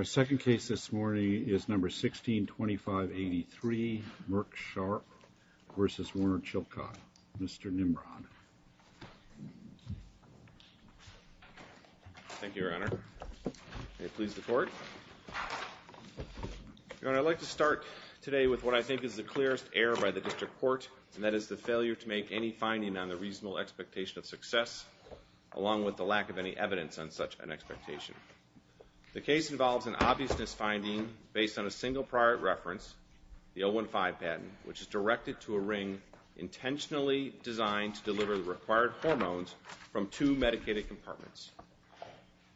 162583 Merck Sharp v. Warner Chilcott The case involves an obviousness finding based on a single prior reference, the 015 patent, which is directed to a ring intentionally designed to deliver the required hormones from two medicated compartments.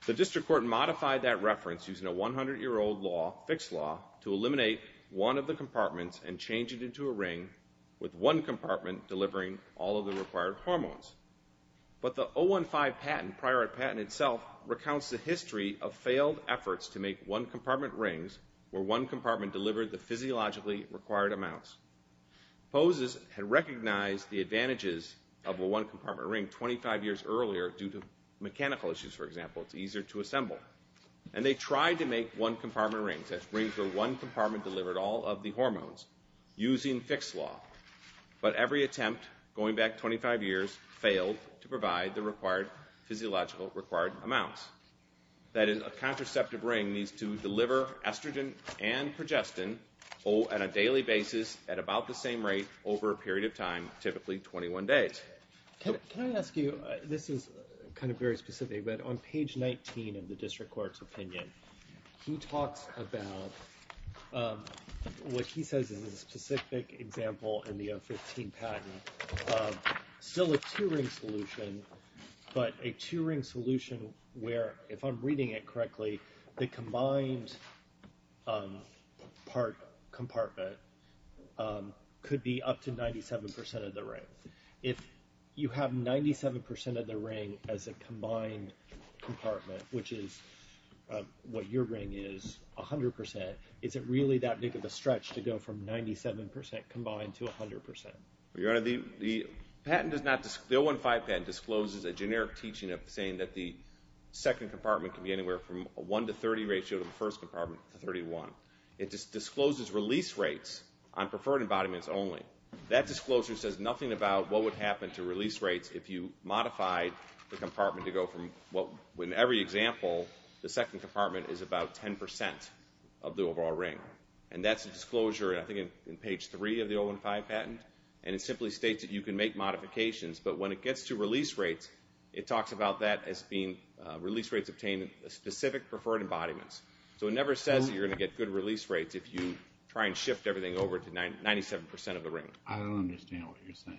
The District Court modified that reference using a 100-year-old law, fixed law, to eliminate one of the compartments and change it into a ring with one compartment delivering all of the required hormones. But the 015 patent, prior patent itself, recounts the history of failed efforts to make one-compartment rings where one compartment delivered the physiologically required amounts. Poses had recognized the advantages of a one-compartment ring 25 years earlier due to mechanical issues, for example, it's easier to assemble. And they tried to make one-compartment rings, rings where one compartment delivered all of the hormones, using fixed law. But every attempt, going back 25 years, failed to provide the required physiological required amounts. That is, a contraceptive ring needs to deliver estrogen and progestin on a daily basis at about the same rate over a period of time, typically 21 days. Can I ask you, this is kind of very specific, but on page 19 of the District Court's opinion, he talks about what he says is a specific example in the 015 patent of still a two-ring solution, but a two-ring solution where, if I'm reading it correctly, the combined part compartment could be up to 97% of the ring. If you have 97% of the ring as a combined compartment, which is what your ring is, 100%, is it really that big of a stretch to go from 97% combined to 100%? Your Honor, the 015 patent discloses a generic teaching of saying that the second compartment can be anywhere from a 1 to 30 ratio to the first compartment to 31. It just discloses release rates on preferred embodiments only. That disclosure says nothing about what would happen to release rates if you modified the compartment to go from what, in every example, the second compartment is about 10% of the overall ring. And that's a disclosure, I think, in page 3 of the 015 patent, and it simply states that you can make modifications, but when it gets to release rates, it talks about that as being release rates obtained at specific preferred embodiments. So it never says that you're going to get good release rates if you try and shift everything over to 97% of the ring. I don't understand what you're saying.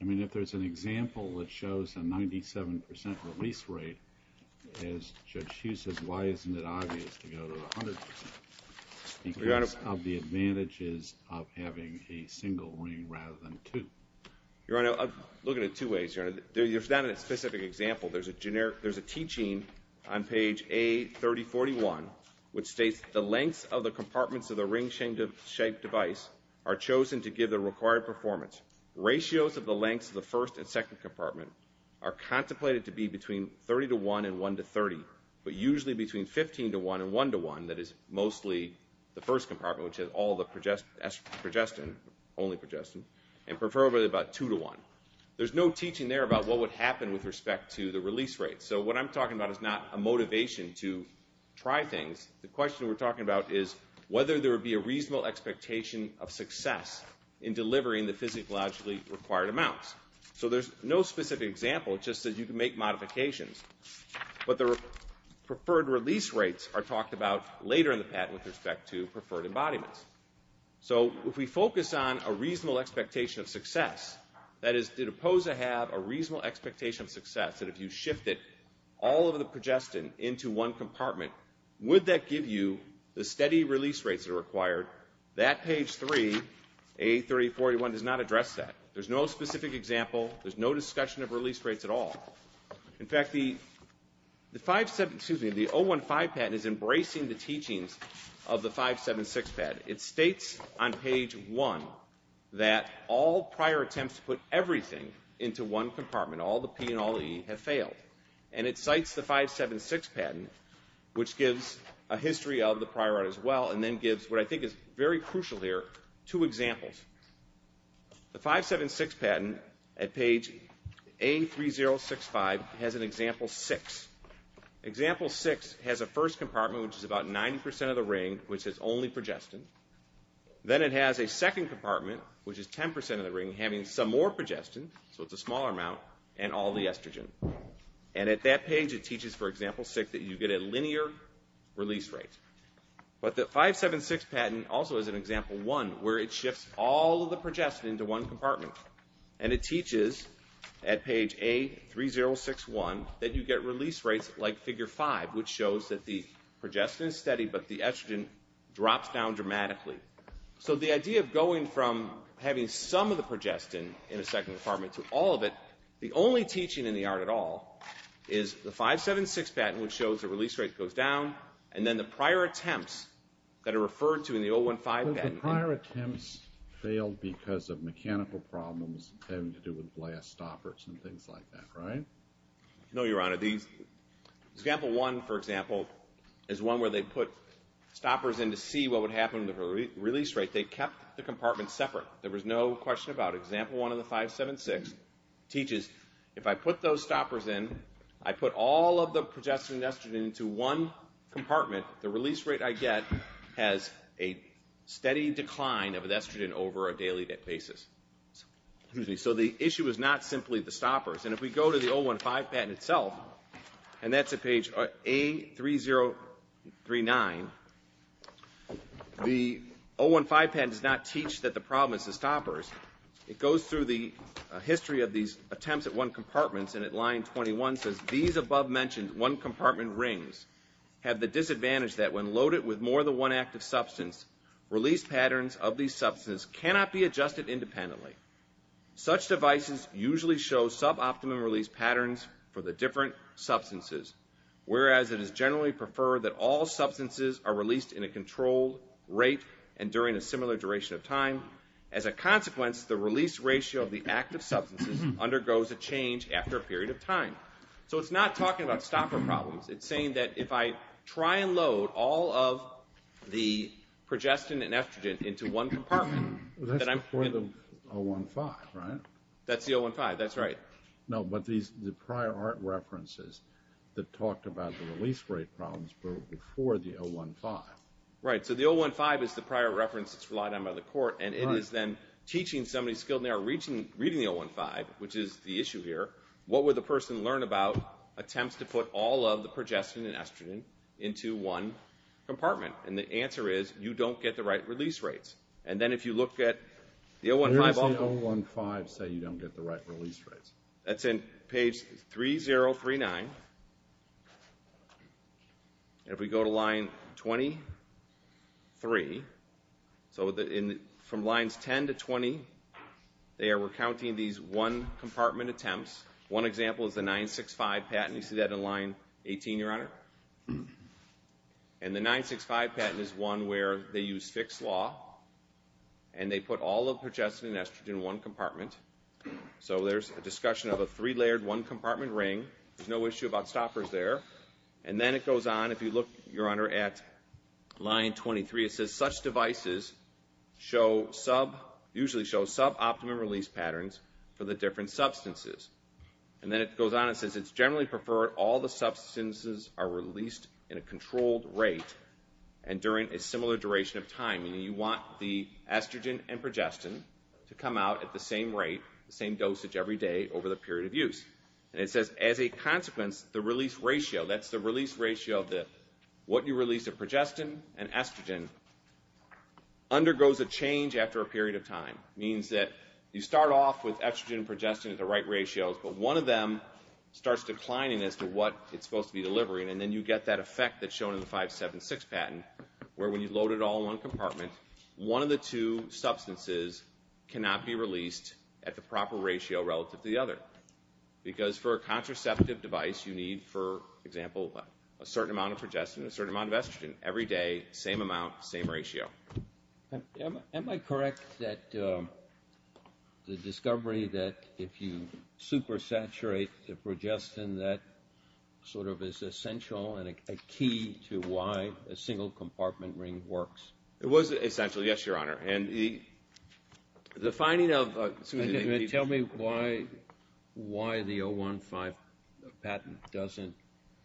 I mean, if there's an example that shows a 97% release rate, as Judge Hughes says, why isn't it obvious to go to 100% because of the advantages of having a single ring rather than two? Your Honor, I'm looking at it two ways. There's not a specific example. There's a teaching on page A3041, which states, The lengths of the compartments of the ring-shaped device are chosen to give the required performance. Ratios of the lengths of the first and second compartment are contemplated to be between 30 to 1 and 1 to 30, but usually between 15 to 1 and 1 to 1. That is mostly the first compartment, which has all the progestin, only progestin, and preferably about 2 to 1. There's no teaching there about what would happen with respect to the release rate. So what I'm talking about is not a motivation to try things. The question we're talking about is whether there would be a reasonable expectation of success in delivering the physiologically required amounts. So there's no specific example. It just says you can make modifications. But the preferred release rates are talked about later in the patent with respect to preferred embodiments. So if we focus on a reasonable expectation of success, that is, did a POSA have a reasonable expectation of success that if you shifted all of the progestin into one compartment, would that give you the steady release rates that are required? That page 3, A3841, does not address that. There's no specific example. There's no discussion of release rates at all. In fact, the 015 patent is embracing the teachings of the 576 patent. It states on page 1 that all prior attempts to put everything into one compartment, all the P and all the E, have failed. And it cites the 576 patent, which gives a history of the prior art as well, and then gives what I think is very crucial here, two examples. The 576 patent at page A3065 has an example 6. Example 6 has a first compartment, which is about 90% of the ring, which is only progestin. Then it has a second compartment, which is 10% of the ring, having some more progestin, so it's a smaller amount, and all the estrogen. And at that page it teaches, for example 6, that you get a linear release rate. But the 576 patent also has an example 1, where it shifts all of the progestin into one compartment. And it teaches at page A3061 that you get release rates like figure 5, which shows that the progestin is steady but the estrogen drops down dramatically. So the idea of going from having some of the progestin in a second compartment to all of it, the only teaching in the art at all is the 576 patent, which shows the release rate goes down, and then the prior attempts that are referred to in the 015 patent. But the prior attempts failed because of mechanical problems having to do with blast stoppers and things like that, right? No, Your Honor. Example 1, for example, is one where they put stoppers in to see what would happen to the release rate. They kept the compartments separate. There was no question about it. Example 1 of the 576 teaches if I put those stoppers in, I put all of the progestin and estrogen into one compartment, the release rate I get has a steady decline of estrogen over a daily basis. So the issue is not simply the stoppers. And if we go to the 015 patent itself, and that's at page A3039, the 015 patent does not teach that the problem is the stoppers. It goes through the history of these attempts at one compartment, and at line 21 says, These above-mentioned one-compartment rings have the disadvantage that when loaded with more than one active substance, release patterns of these substances cannot be adjusted independently. Such devices usually show suboptimum release patterns for the different substances, whereas it is generally preferred that all substances are released in a controlled rate and during a similar duration of time. As a consequence, the release ratio of the active substances undergoes a change after a period of time. So it's not talking about stopper problems. It's saying that if I try and load all of the progestin and estrogen into one compartment, That's before the 015, right? That's the 015, that's right. No, but the prior art references that talked about the release rate problems were before the 015. Right, so the 015 is the prior reference that's relied on by the court, and it is then teaching somebody skilled in the art reading the 015, which is the issue here. What would the person learn about attempts to put all of the progestin and estrogen into one compartment? And the answer is, you don't get the right release rates. And then if you look at the 015. Where does the 015 say you don't get the right release rates? That's in page 3039. If we go to line 23, so from lines 10 to 20, there we're counting these one compartment attempts. One example is the 965 patent. You see that in line 18, Your Honor? And the 965 patent is one where they use fixed law, and they put all of the progestin and estrogen in one compartment. So there's a discussion of a three-layered, one-compartment ring. There's no issue about stoppers there. And then it goes on, if you look, Your Honor, at line 23, it says, Such devices usually show sub-optimum release patterns for the different substances. And then it goes on and says, It's generally preferred all the substances are released in a controlled rate and during a similar duration of time. Meaning you want the estrogen and progestin to come out at the same rate, the same dosage every day over the period of use. And it says, As a consequence, the release ratio, that's the release ratio of what you release of progestin and estrogen, undergoes a change after a period of time. It means that you start off with estrogen and progestin at the right ratios, but one of them starts declining as to what it's supposed to be delivering, and then you get that effect that's shown in the 576 patent, where when you load it all in one compartment, one of the two substances cannot be released at the proper ratio relative to the other. Because for a contraceptive device, you need, for example, a certain amount of progestin and a certain amount of estrogen every day, same amount, same ratio. Am I correct that the discovery that if you supersaturate the progestin, that sort of is essential and a key to why a single compartment ring works? It was essential, yes, Your Honor. And the finding of a... Tell me why the 015 patent doesn't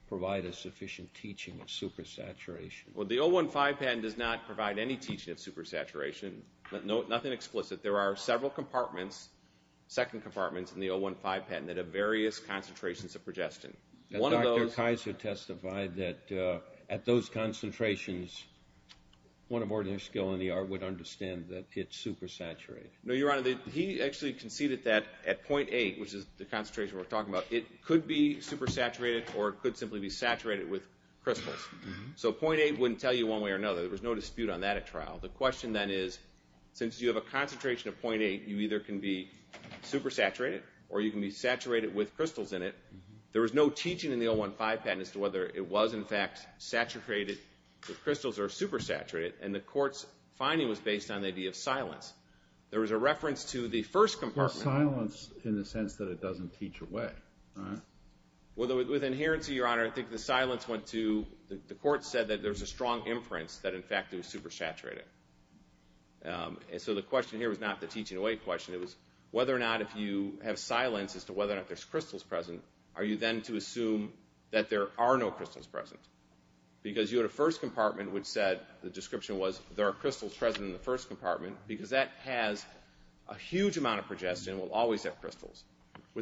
provide a sufficient teaching of supersaturation. Well, the 015 patent does not provide any teaching of supersaturation, nothing explicit. There are several compartments, second compartments in the 015 patent, that have various concentrations of progestin. One of those... Dr. Kaiser testified that at those concentrations, one of ordinary skill in the art would understand that it's supersaturated. No, Your Honor, he actually conceded that at 0.8, which is the concentration we're talking about, it could be supersaturated or it could simply be saturated with crystals. So 0.8 wouldn't tell you one way or another. There was no dispute on that at trial. The question, then, is since you have a concentration of 0.8, you either can be supersaturated or you can be saturated with crystals in it. There was no teaching in the 015 patent as to whether it was, in fact, saturated with crystals or supersaturated, and the court's finding was based on the idea of silence. There was a reference to the first compartment. Silence in the sense that it doesn't teach away. With adherence, Your Honor, I think the silence went to the court said that there's a strong inference that, in fact, it was supersaturated. So the question here was not the teaching away question. It was whether or not if you have silence as to whether or not there's crystals present, are you then to assume that there are no crystals present? Because you had a first compartment which said, the description was, there are crystals present in the first compartment With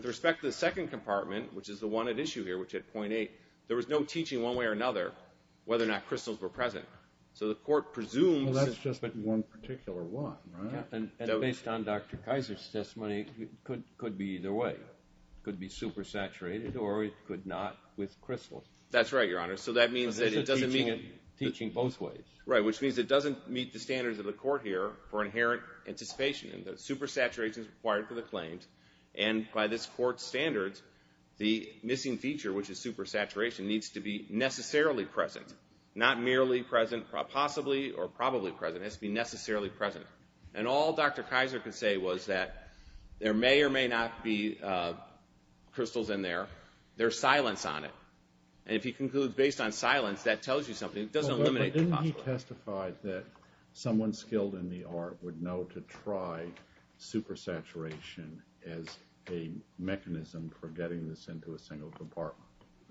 respect to the second compartment, which is the one at issue here, which had 0.8, there was no teaching one way or another whether or not crystals were present. So the court presumes. Well, that's just one particular one, right? And based on Dr. Kaiser's testimony, it could be either way. It could be supersaturated or it could not with crystals. That's right, Your Honor. So that means that it doesn't meet. Teaching both ways. Right, which means it doesn't meet the standards of the court here for inherent anticipation that supersaturation is required for the claims. And by this court's standards, the missing feature, which is supersaturation, needs to be necessarily present, not merely present, possibly or probably present. It has to be necessarily present. And all Dr. Kaiser could say was that there may or may not be crystals in there. There's silence on it. And if he concludes based on silence, that tells you something. It doesn't eliminate the possibility. Did he testify that someone skilled in the art would know to try supersaturation as a mechanism for getting this into a single compartment?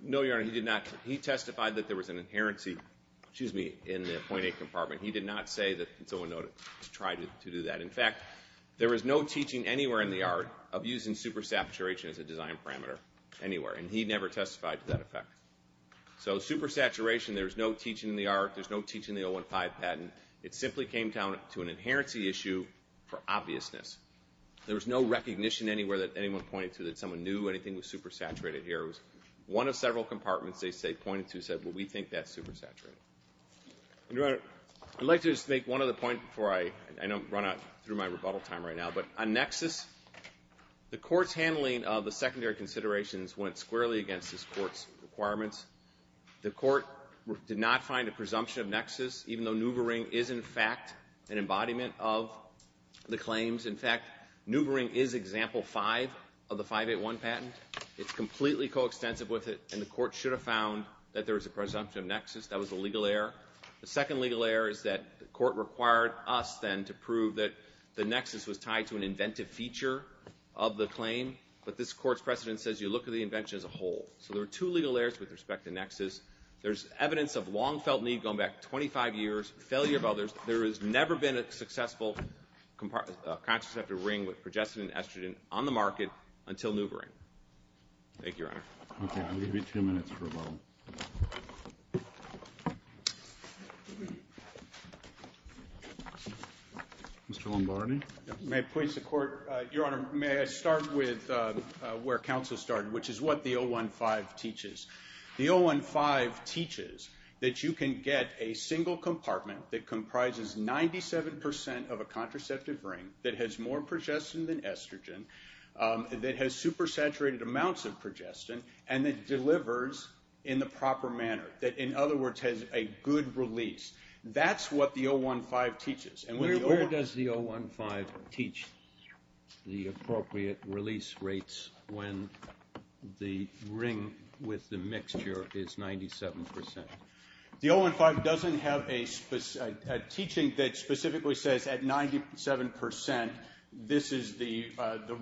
No, Your Honor, he did not. He testified that there was an inherency in the 0.8 compartment. He did not say that someone would know to try to do that. In fact, there was no teaching anywhere in the art of using supersaturation as a design parameter anywhere, and he never testified to that effect. So supersaturation, there's no teaching in the art. There's no teaching in the 0.15 patent. It simply came down to an inherency issue for obviousness. There was no recognition anywhere that anyone pointed to that someone knew anything was supersaturated here. It was one of several compartments they pointed to and said, well, we think that's supersaturated. Your Honor, I'd like to just make one other point before I run out through my rebuttal time right now, but on nexus, the court's handling of the secondary considerations went squarely against this court's requirements. The court did not find a presumption of nexus, even though Nuvaring is, in fact, an embodiment of the claims. In fact, Nuvaring is example five of the 581 patent. It's completely coextensive with it, and the court should have found that there was a presumption of nexus. That was a legal error. The second legal error is that the court required us, then, to prove that the nexus was tied to an inventive feature of the claim, but this court's precedent says you look at the invention as a whole. So there are two legal errors with respect to nexus. There's evidence of long-felt need going back 25 years, failure of others. There has never been a successful contraceptive ring with progestin and estrogen on the market until Nuvaring. Thank you, Your Honor. Okay, I'll give you two minutes for rebuttal. Mr. Lombardi? May it please the Court, Your Honor, may I start with where counsel started, which is what the 015 teaches. The 015 teaches that you can get a single compartment that comprises 97% of a contraceptive ring that has more progestin than estrogen, that has supersaturated amounts of progestin, and that delivers in the proper manner, that, in other words, has a good release. That's what the 015 teaches. Where does the 015 teach the appropriate release rates when the ring with the mixture is 97%? The 015 doesn't have a teaching that specifically says at 97% this is the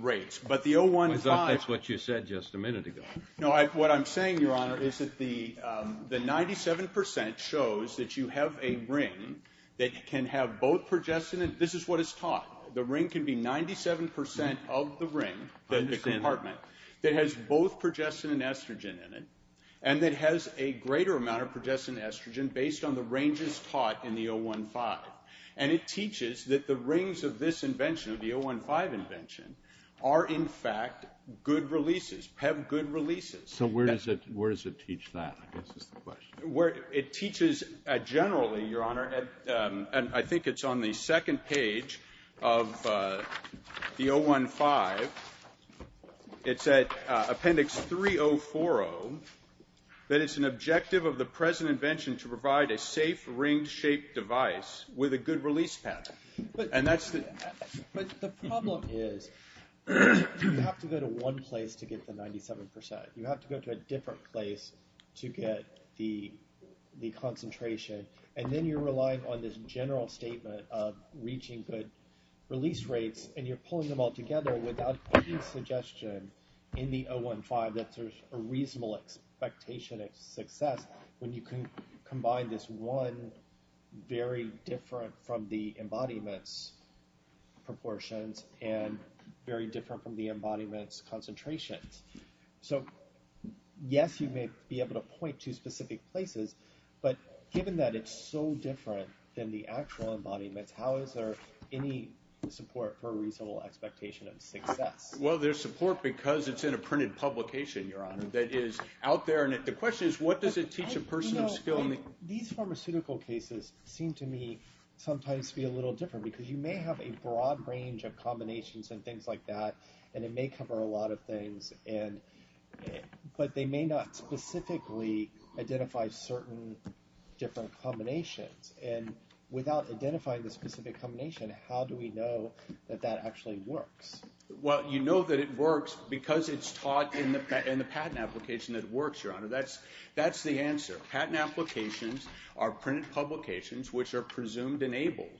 rates. I thought that's what you said just a minute ago. The 97% shows that you have a ring that can have both progestin. This is what it's taught. The ring can be 97% of the ring, the compartment, that has both progestin and estrogen in it, and that has a greater amount of progestin and estrogen based on the ranges taught in the 015. And it teaches that the rings of this invention, of the 015 invention, are, in fact, good releases, have good releases. So where does it teach that? I guess that's the question. It teaches generally, Your Honor, and I think it's on the second page of the 015. It's at Appendix 3040 that it's an objective of the present invention to provide a safe ring-shaped device with a good release pattern. But the problem is you have to go to one place to get the 97%. You have to go to a different place to get the concentration. And then you're relying on this general statement of reaching good release rates, and you're pulling them all together without any suggestion in the 015 that there's a reasonable expectation of success when you can combine this one very different from the embodiment's proportions and very different from the embodiment's concentrations. So, yes, you may be able to point to specific places, but given that it's so different than the actual embodiments, how is there any support for a reasonable expectation of success? Well, there's support because it's in a printed publication, Your Honor, that is out there. And the question is what does it teach a person of skill? These pharmaceutical cases seem to me sometimes to be a little different because you may have a broad range of combinations and things like that, and it may cover a lot of things, but they may not specifically identify certain different combinations. And without identifying the specific combination, how do we know that that actually works? Well, you know that it works because it's taught in the patent application that it works, Your Honor. That's the answer. Patent applications are printed publications which are presumed enabled.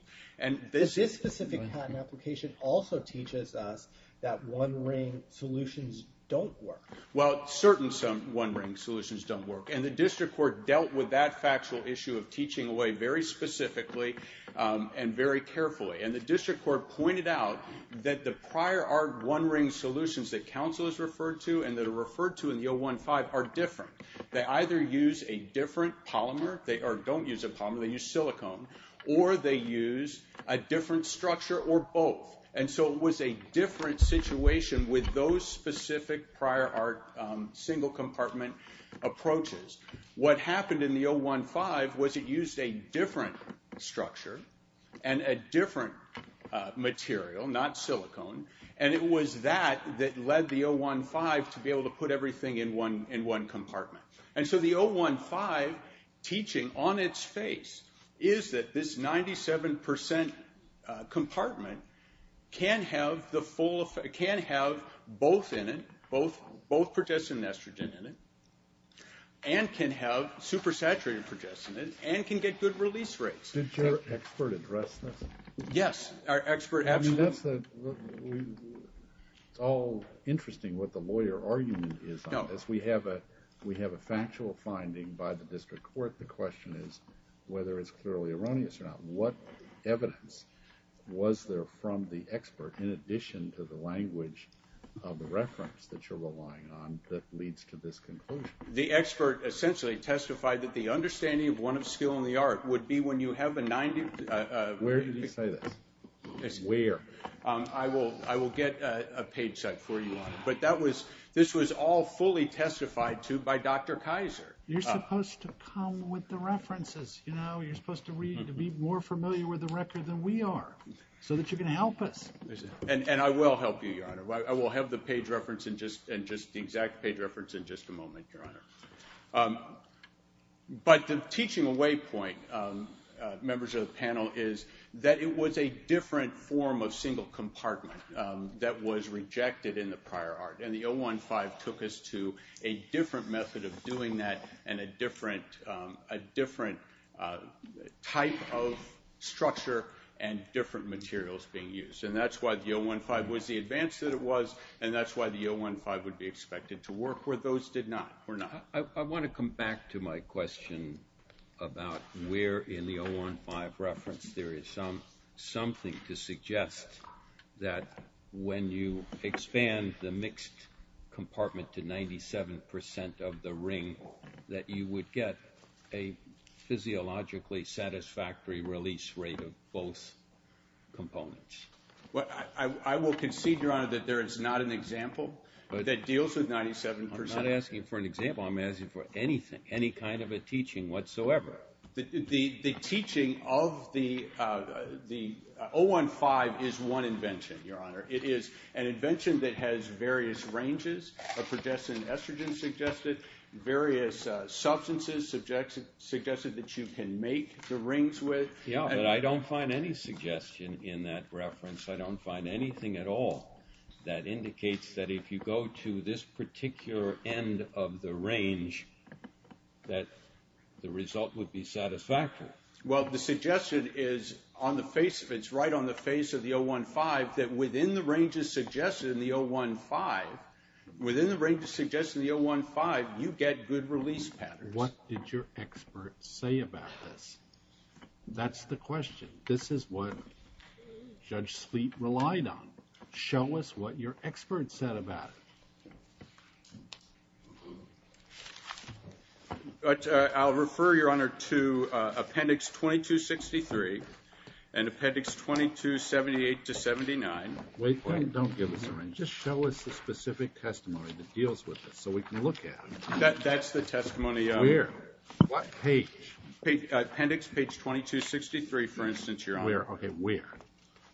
This specific patent application also teaches us that one-ring solutions don't work. Well, certain one-ring solutions don't work. And the district court dealt with that factual issue of teaching away very specifically and very carefully. And the district court pointed out that the prior art one-ring solutions that counsel has referred to and that are referred to in the 015 are different. They either use a different polymer or don't use a polymer, they use silicone, or they use a different structure or both. And so it was a different situation with those specific prior art single compartment approaches. What happened in the 015 was it used a different structure and a different material, not silicone, and it was that that led the 015 to be able to put everything in one compartment. And so the 015 teaching on its face is that this 97% compartment can have both in it, both progestin and estrogen in it, and can have supersaturated progestin in it, and can get good release rates. Did your expert address this? Yes. Our expert absolutely. I mean, that's all interesting what the lawyer argument is on this. If we have a factual finding by the district court, the question is whether it's clearly erroneous or not. What evidence was there from the expert in addition to the language of the reference that you're relying on that leads to this conclusion? The expert essentially testified that the understanding of one of skill and the art would be when you have a 90- Where did he say this? Where? I will get a page set for you on it. But this was all fully testified to by Dr. Kaiser. You're supposed to come with the references. You're supposed to be more familiar with the record than we are so that you can help us. And I will help you, Your Honor. I will have the exact page reference in just a moment, Your Honor. But the teaching waypoint, members of the panel, is that it was a different form of single compartment that was rejected in the prior art. And the 015 took us to a different method of doing that and a different type of structure and different materials being used. And that's why the 015 was the advance that it was, and that's why the 015 would be expected to work where those did not or not. I want to come back to my question about where in the 015 reference there is something to suggest that when you expand the mixed compartment to 97% of the ring that you would get a physiologically satisfactory release rate of both components. I will concede, Your Honor, that there is not an example that deals with 97%. I'm not asking for an example. I'm asking for anything, any kind of a teaching whatsoever. The teaching of the 015 is one invention, Your Honor. It is an invention that has various ranges of progestin and estrogen suggested, various substances suggested that you can make the rings with. Yeah, but I don't find any suggestion in that reference. I don't find anything at all that indicates that if you go to this particular end of the range that the result would be satisfactory. Well, the suggestion is on the face of it, it's right on the face of the 015, that within the ranges suggested in the 015, within the ranges suggested in the 015, you get good release patterns. What did your expert say about this? That's the question. This is what Judge Spleet relied on. Show us what your expert said about it. I'll refer, Your Honor, to Appendix 2263 and Appendix 2278-79. Wait a minute. Don't give us the range. Just show us the specific testimony that deals with this so we can look at it. That's the testimony. Where? What page? Appendix 2263, for instance, Your Honor. Where? Okay, where?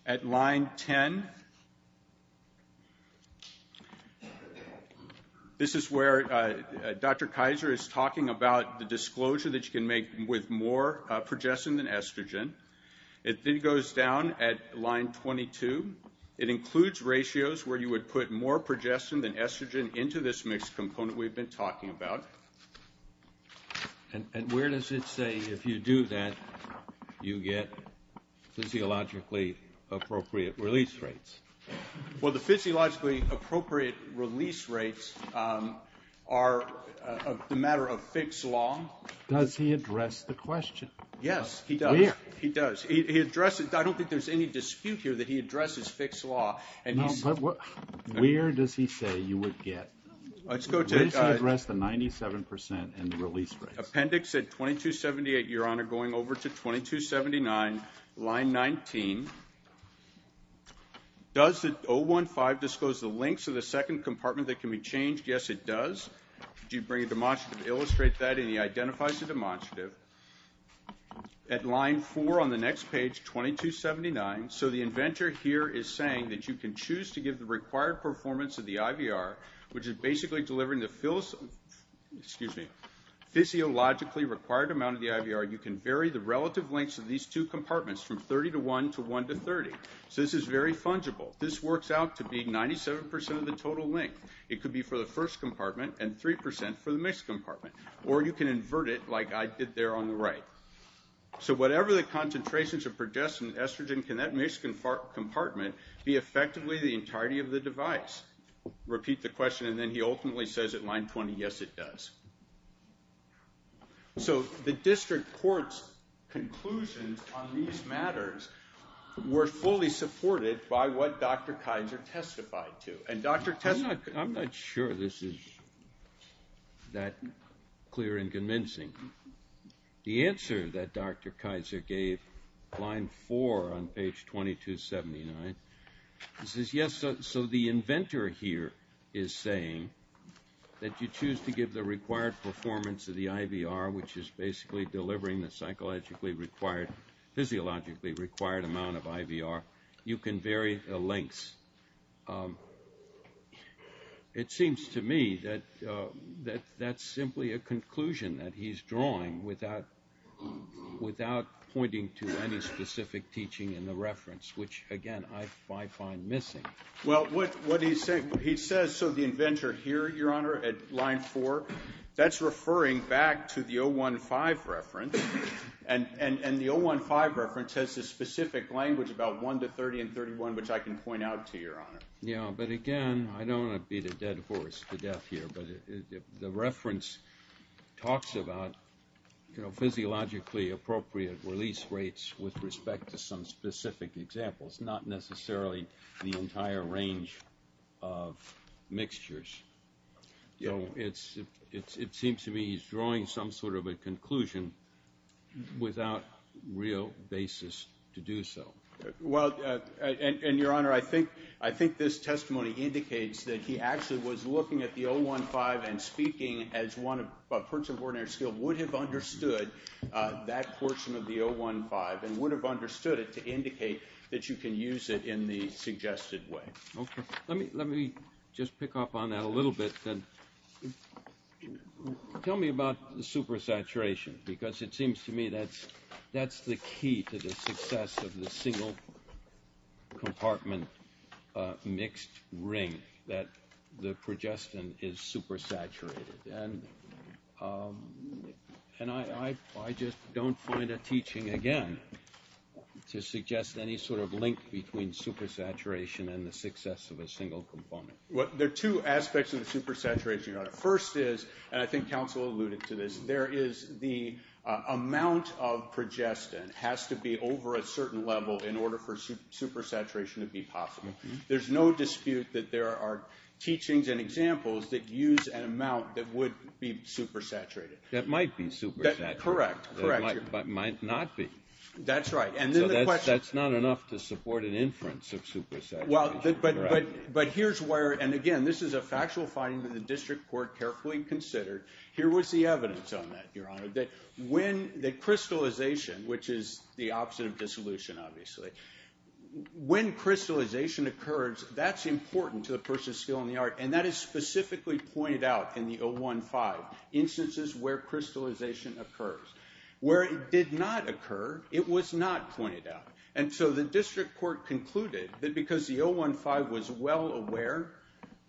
At line 10. This is where Dr. Kaiser is talking about the disclosure that you can make with more progestin than estrogen. It then goes down at line 22. It includes ratios where you would put more progestin than estrogen into this mixed component we've been talking about. And where does it say, if you do that, you get physiologically appropriate release rates? Well, the physiologically appropriate release rates are a matter of fixed law. Does he address the question? Yes, he does. Where? He does. He addresses it. I don't think there's any dispute here that he addresses fixed law. No, but where does he say you would get? Where does he address the 97% in the release rates? Appendix at 2278, Your Honor, going over to 2279, line 19. Does 015 disclose the links of the second compartment that can be changed? Yes, it does. Did you bring a demonstrative to illustrate that? And he identifies the demonstrative. At line 4 on the next page, 2279, so the inventor here is saying that you can choose to give the required performance of the IVR, which is basically delivering the physiologically required amount of the IVR, you can vary the relative lengths of these two compartments from 30 to 1 to 1 to 30. So this is very fungible. This works out to be 97% of the total length. It could be for the first compartment and 3% for the mixed compartment. Or you can invert it like I did there on the right. So whatever the concentrations of progestin and estrogen, can that mixed compartment be effectively the entirety of the device? Repeat the question. And then he ultimately says at line 20, yes, it does. So the district court's conclusions on these matters were fully supported by what Dr. Kaiser testified to. And Dr. Kaiser – I'm not sure this is that clear and convincing. The answer that Dr. Kaiser gave, line 4 on page 2279, he says, yes, so the inventor here is saying that you choose to give the required performance of the IVR, which is basically delivering the psychologically required, physiologically required amount of IVR. You can vary the lengths. It seems to me that that's simply a conclusion that he's drawing without pointing to any specific teaching in the reference, which, again, I find missing. Well, what he says, so the inventor here, Your Honor, at line 4, that's referring back to the 015 reference. And the 015 reference has a specific language about 1 to 30 and 31, which I can point out to you, Your Honor. Yeah, but, again, I don't want to beat a dead horse to death here, but the reference talks about physiologically appropriate release rates with respect to some specific examples, not necessarily the entire range of mixtures. So it seems to me he's drawing some sort of a conclusion without real basis to do so. Well, and, Your Honor, I think this testimony indicates that he actually was looking at the 015 and speaking as a person of ordinary skill would have understood that portion of the 015 and would have understood it to indicate that you can use it in the suggested way. Okay. Let me just pick up on that a little bit. Tell me about the supersaturation because it seems to me that's the key to the success of the single compartment mixed ring, that the progestin is supersaturated. And I just don't find a teaching, again, to suggest any sort of link between supersaturation and the success of a single component. Well, there are two aspects of the supersaturation, Your Honor. First is, and I think counsel alluded to this, there is the amount of progestin has to be over a certain level in order for supersaturation to be possible. There's no dispute that there are teachings and examples that use an amount that would be supersaturated. That might be supersaturated. Correct. But might not be. That's right. So that's not enough to support an inference of supersaturation. But here's where, and again, this is a factual finding that the district court carefully considered. Here was the evidence on that, Your Honor, that when the crystallization, which is the opposite of dissolution obviously, when crystallization occurs, that's important to the person's skill in the art, and that is specifically pointed out in the 015, instances where crystallization occurs. Where it did not occur, it was not pointed out. And so the district court concluded that because the 015 was well aware,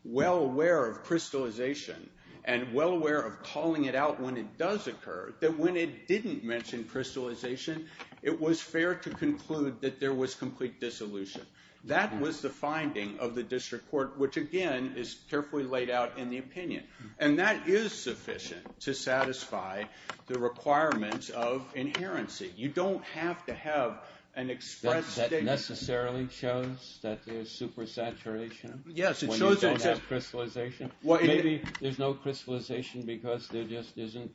well aware of crystallization, and well aware of calling it out when it does occur, that when it didn't mention crystallization, it was fair to conclude that there was complete dissolution. That was the finding of the district court, which, again, is carefully laid out in the opinion. And that is sufficient to satisfy the requirements of inherency. You don't have to have an express statement. That necessarily shows that there's supersaturation when you don't have crystallization? Maybe there's no crystallization because there just isn't,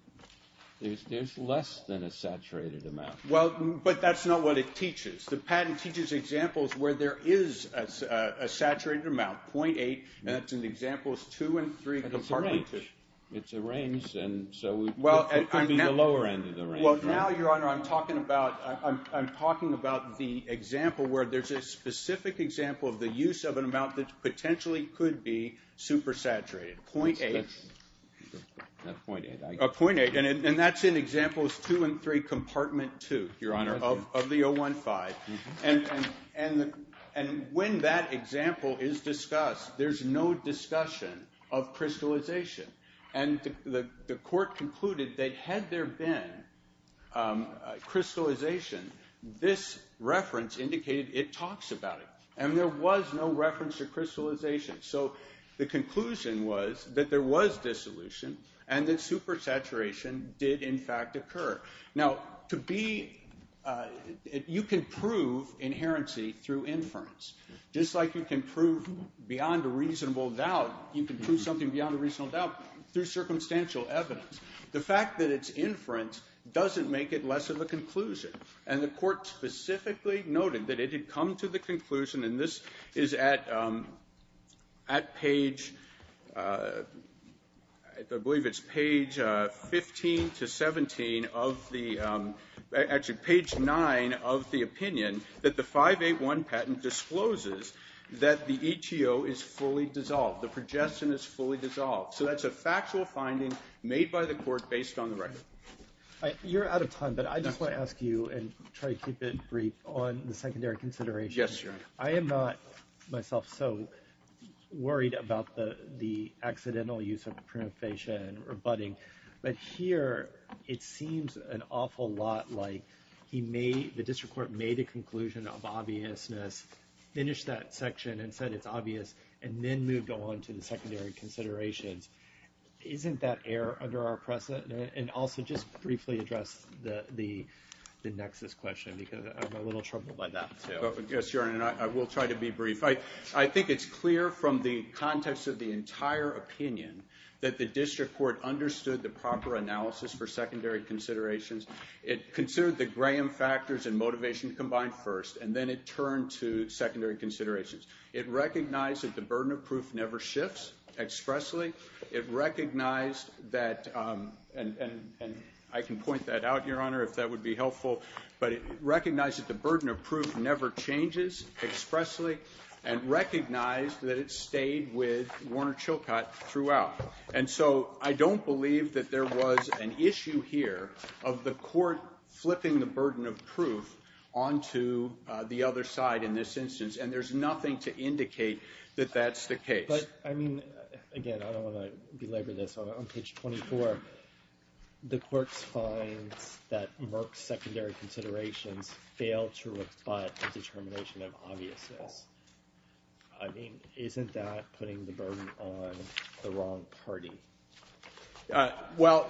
there's less than a saturated amount. Well, but that's not what it teaches. The patent teaches examples where there is a saturated amount, 0.8, and that's in examples 2 and 3. It's a range. It's a range, and so it could be the lower end of the range. Well, now, Your Honor, I'm talking about the example where there's a specific example of the use of an amount that potentially could be supersaturated, 0.8. And that's in examples 2 and 3, compartment 2, Your Honor, of the 015. And when that example is discussed, there's no discussion of crystallization. And the court concluded that had there been crystallization, this reference indicated it talks about it. And there was no reference to crystallization. So the conclusion was that there was dissolution and that supersaturation did, in fact, occur. Now, you can prove inherency through inference. Just like you can prove beyond a reasonable doubt, you can prove something beyond a reasonable doubt through circumstantial evidence. The fact that it's inference doesn't make it less of a conclusion. And the court specifically noted that it had come to the conclusion, and this is at page 15 to 17 of the opinion, that the 581 patent discloses that the ETO is fully dissolved, the progestin is fully dissolved. So that's a factual finding made by the court based on the record. You're out of time, but I just want to ask you and try to keep it brief on the secondary considerations. Yes, Your Honor. I am not myself so worried about the accidental use of primifacia and rebutting, but here it seems an awful lot like the district court made a conclusion of obviousness, finished that section and said it's obvious, and then moved on to the secondary considerations. Isn't that error under our precedent? And also, just briefly address the nexus question because I'm a little troubled by that, too. Yes, Your Honor, and I will try to be brief. I think it's clear from the context of the entire opinion that the district court understood the proper analysis for secondary considerations. It considered the Graham factors and motivation combined first, and then it turned to secondary considerations. It recognized that the burden of proof never shifts expressly. It recognized that, and I can point that out, Your Honor, if that would be helpful, but it recognized that the burden of proof never changes expressly and recognized that it stayed with Warner Chilcott throughout. And so I don't believe that there was an issue here of the court flipping the burden of proof onto the other side in this instance, and there's nothing to indicate that that's the case. But, I mean, again, I don't want to belabor this. On page 24, the courts find that Merck's secondary considerations fail to rebut the determination of obviousness. I mean, isn't that putting the burden on the wrong party? Well,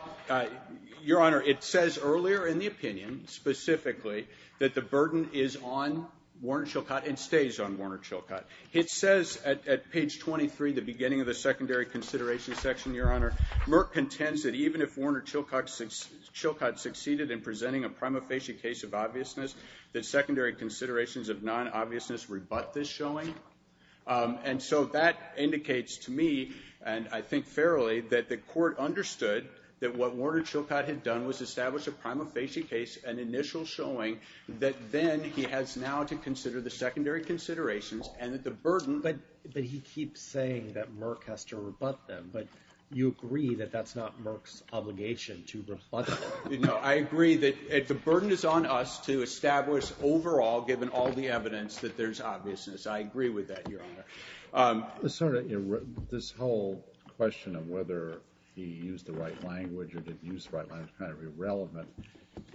Your Honor, it says earlier in the opinion specifically that the burden is on Warner Chilcott and stays on Warner Chilcott. It says at page 23, the beginning of the secondary consideration section, Your Honor, Merck contends that even if Warner Chilcott succeeded in presenting a prima facie case of obviousness, that secondary considerations of non-obviousness rebut this showing. And so that indicates to me, and I think fairly, that the court understood that what Warner Chilcott had done was establish a prima facie case, an initial showing that then he has now to consider the secondary considerations and that the burden. But he keeps saying that Merck has to rebut them, but you agree that that's not Merck's obligation to rebut them. No, I agree that the burden is on us to establish overall, given all the evidence, that there's obviousness. I agree with that, Your Honor. Senator, this whole question of whether he used the right language or didn't use the right language is kind of irrelevant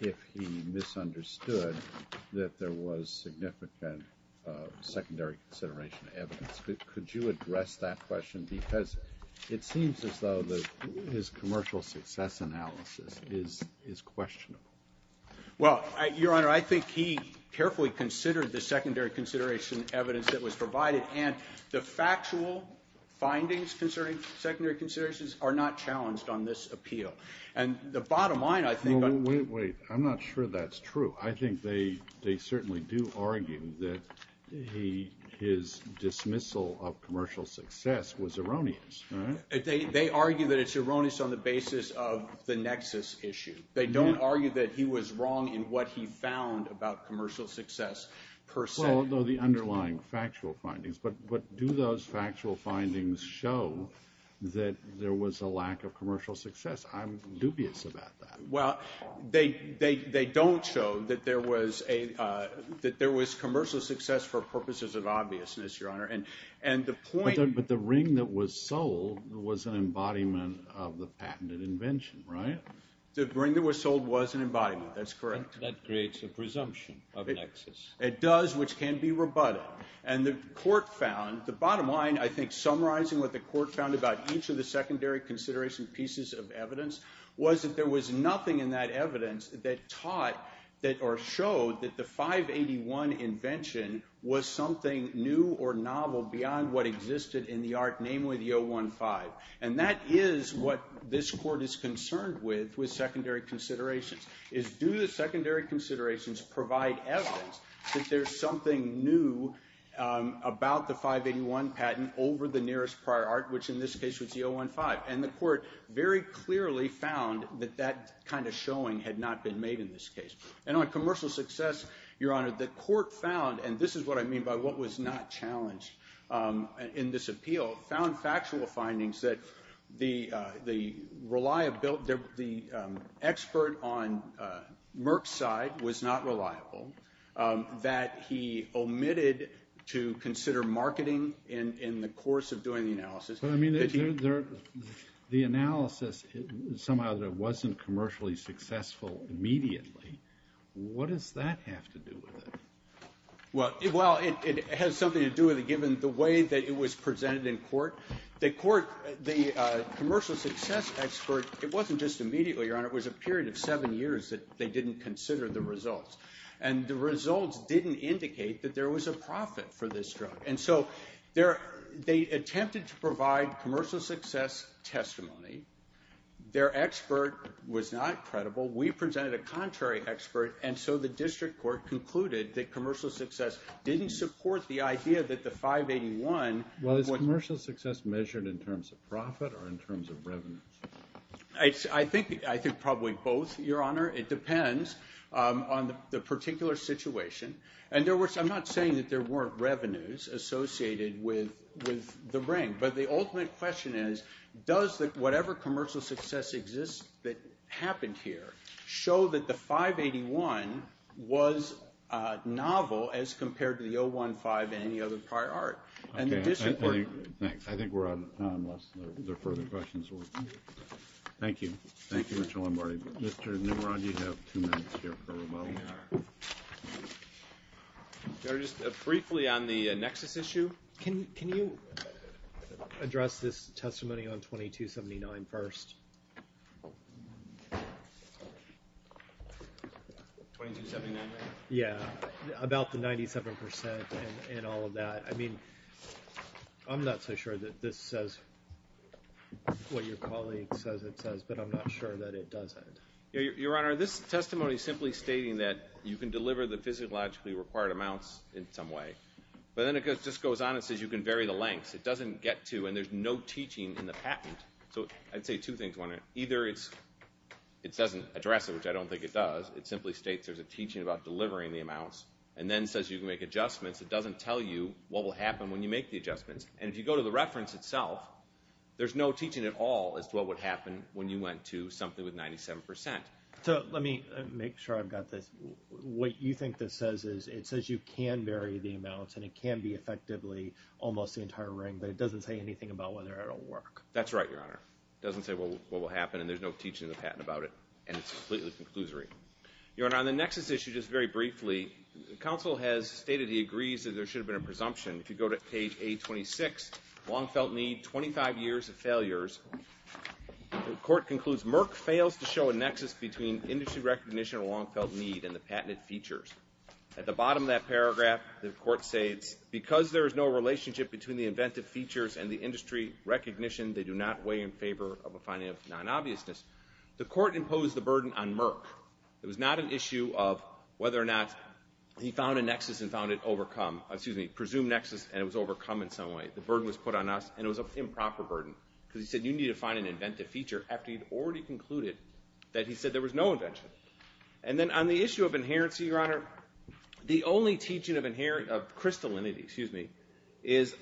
if he misunderstood that there was significant secondary consideration evidence. Could you address that question? Because it seems as though his commercial success analysis is questionable. Well, Your Honor, I think he carefully considered the secondary consideration evidence that was provided, and the factual findings concerning secondary considerations are not challenged on this appeal. And the bottom line, I think... Wait, wait, wait. I'm not sure that's true. I think they certainly do argue that his dismissal of commercial success was erroneous. They argue that it's erroneous on the basis of the nexus issue. They don't argue that he was wrong in what he found about commercial success per se. Well, the underlying factual findings. But do those factual findings show that there was a lack of commercial success? I'm dubious about that. Well, they don't show that there was commercial success for purposes of obviousness, Your Honor. But the ring that was sold was an embodiment of the patented invention, right? The ring that was sold was an embodiment. That's correct. That creates a presumption of nexus. It does, which can be rebutted. And the court found, the bottom line, I think, summarizing what the court found about each of the secondary consideration pieces of evidence, was that there was nothing in that evidence that taught or showed that the 581 invention was something new or novel beyond what existed in the art namely the 015. And that is what this court is concerned with, with secondary considerations, is do the secondary considerations provide evidence that there's something new about the 581 patent over the nearest prior art, which in this case was the 015. And the court very clearly found that that kind of showing had not been made in this case. And on commercial success, Your Honor, the court found, and this is what I mean by what was not challenged in this appeal, found factual findings that the expert on Merck's side was not reliable, that he omitted to consider marketing in the course of doing the analysis. But, I mean, the analysis somehow that it wasn't commercially successful immediately, what does that have to do with it? Well, it has something to do with it given the way that it was presented in court. The commercial success expert, it wasn't just immediately, Your Honor, it was a period of seven years that they didn't consider the results. And the results didn't indicate that there was a profit for this drug. And so they attempted to provide commercial success testimony. Their expert was not credible. We presented a contrary expert. And so the district court concluded that commercial success didn't support the idea that the 581. Well, is commercial success measured in terms of profit or in terms of revenue? I think probably both, Your Honor. It depends on the particular situation. In other words, I'm not saying that there weren't revenues associated with the ring. But the ultimate question is, does whatever commercial success exists that happened here show that the 581 was novel as compared to the 015 and any other prior art? Okay. Thanks. I think we're out of time unless there are further questions. Thank you. Thank you, Mr. Lombardi. Mr. Nimrod, you have two minutes here for rebuttal. Your Honor, just briefly on the Nexus issue. Can you address this testimony on 2279 first? 2279? Yeah, about the 97% and all of that. I mean, I'm not so sure that this says what your colleague says it says, but I'm not sure that it doesn't. Your Honor, this testimony is simply stating that you can deliver the physiologically required amounts in some way. But then it just goes on and says you can vary the lengths. It doesn't get to, and there's no teaching in the patent. So I'd say two things. Either it doesn't address it, which I don't think it does. It simply states there's a teaching about delivering the amounts and then says you can make adjustments. And if you go to the reference itself, there's no teaching at all as to what would happen when you went to something with 97%. So let me make sure I've got this. What you think this says is it says you can vary the amounts and it can be effectively almost the entire ring. But it doesn't say anything about whether it'll work. That's right, Your Honor. It doesn't say what will happen, and there's no teaching in the patent about it. And it's completely conclusory. Your Honor, on the Nexus issue, just very briefly, the counsel has stated he agrees that there should have been a presumption. If you go to page A26, Longfelt Need, 25 years of failures, the court concludes, Merck fails to show a nexus between industry recognition of Longfelt Need and the patented features. At the bottom of that paragraph, the court states, because there is no relationship between the inventive features and the industry recognition, they do not weigh in favor of a finding of non-obviousness. The court imposed the burden on Merck. It was not an issue of whether or not he found a nexus and found it overcome, excuse me, presumed nexus and it was overcome in some way. The burden was put on us, and it was an improper burden because he said you need to find an inventive feature after he'd already concluded that he said there was no invention. And then on the issue of inherency, Your Honor, the only teaching of crystallinity, excuse me, is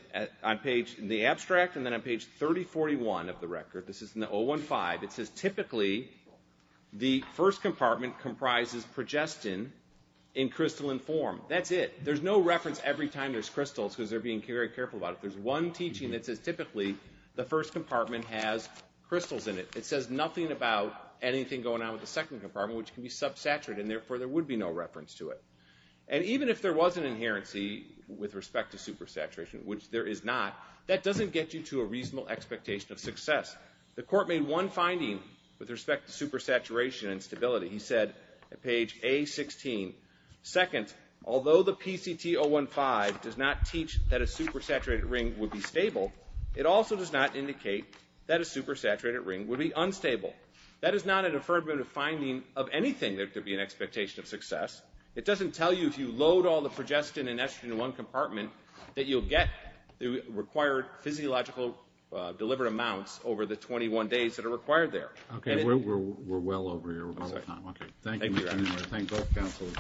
on page, in the abstract and then on page 3041 of the record, this is in the 015, it says typically the first compartment comprises progestin in crystalline form. That's it. There's no reference every time there's crystals because they're being very careful about it. There's one teaching that says typically the first compartment has crystals in it. It says nothing about anything going on with the second compartment which can be subsaturated, and therefore there would be no reference to it. And even if there was an inherency with respect to supersaturation, which there is not, that doesn't get you to a reasonable expectation of success. The court made one finding with respect to supersaturation and stability. He said at page A16, second, although the PCT 015 does not teach that a supersaturated ring would be stable, it also does not indicate that a supersaturated ring would be unstable. That is not an affirmative finding of anything that there would be an expectation of success. It doesn't tell you if you load all the progestin and estrogen in one compartment that you'll get the required physiological delivered amounts over the 21 days that are required there. We're well over here. Thank you. Thank you. Thank both counsels.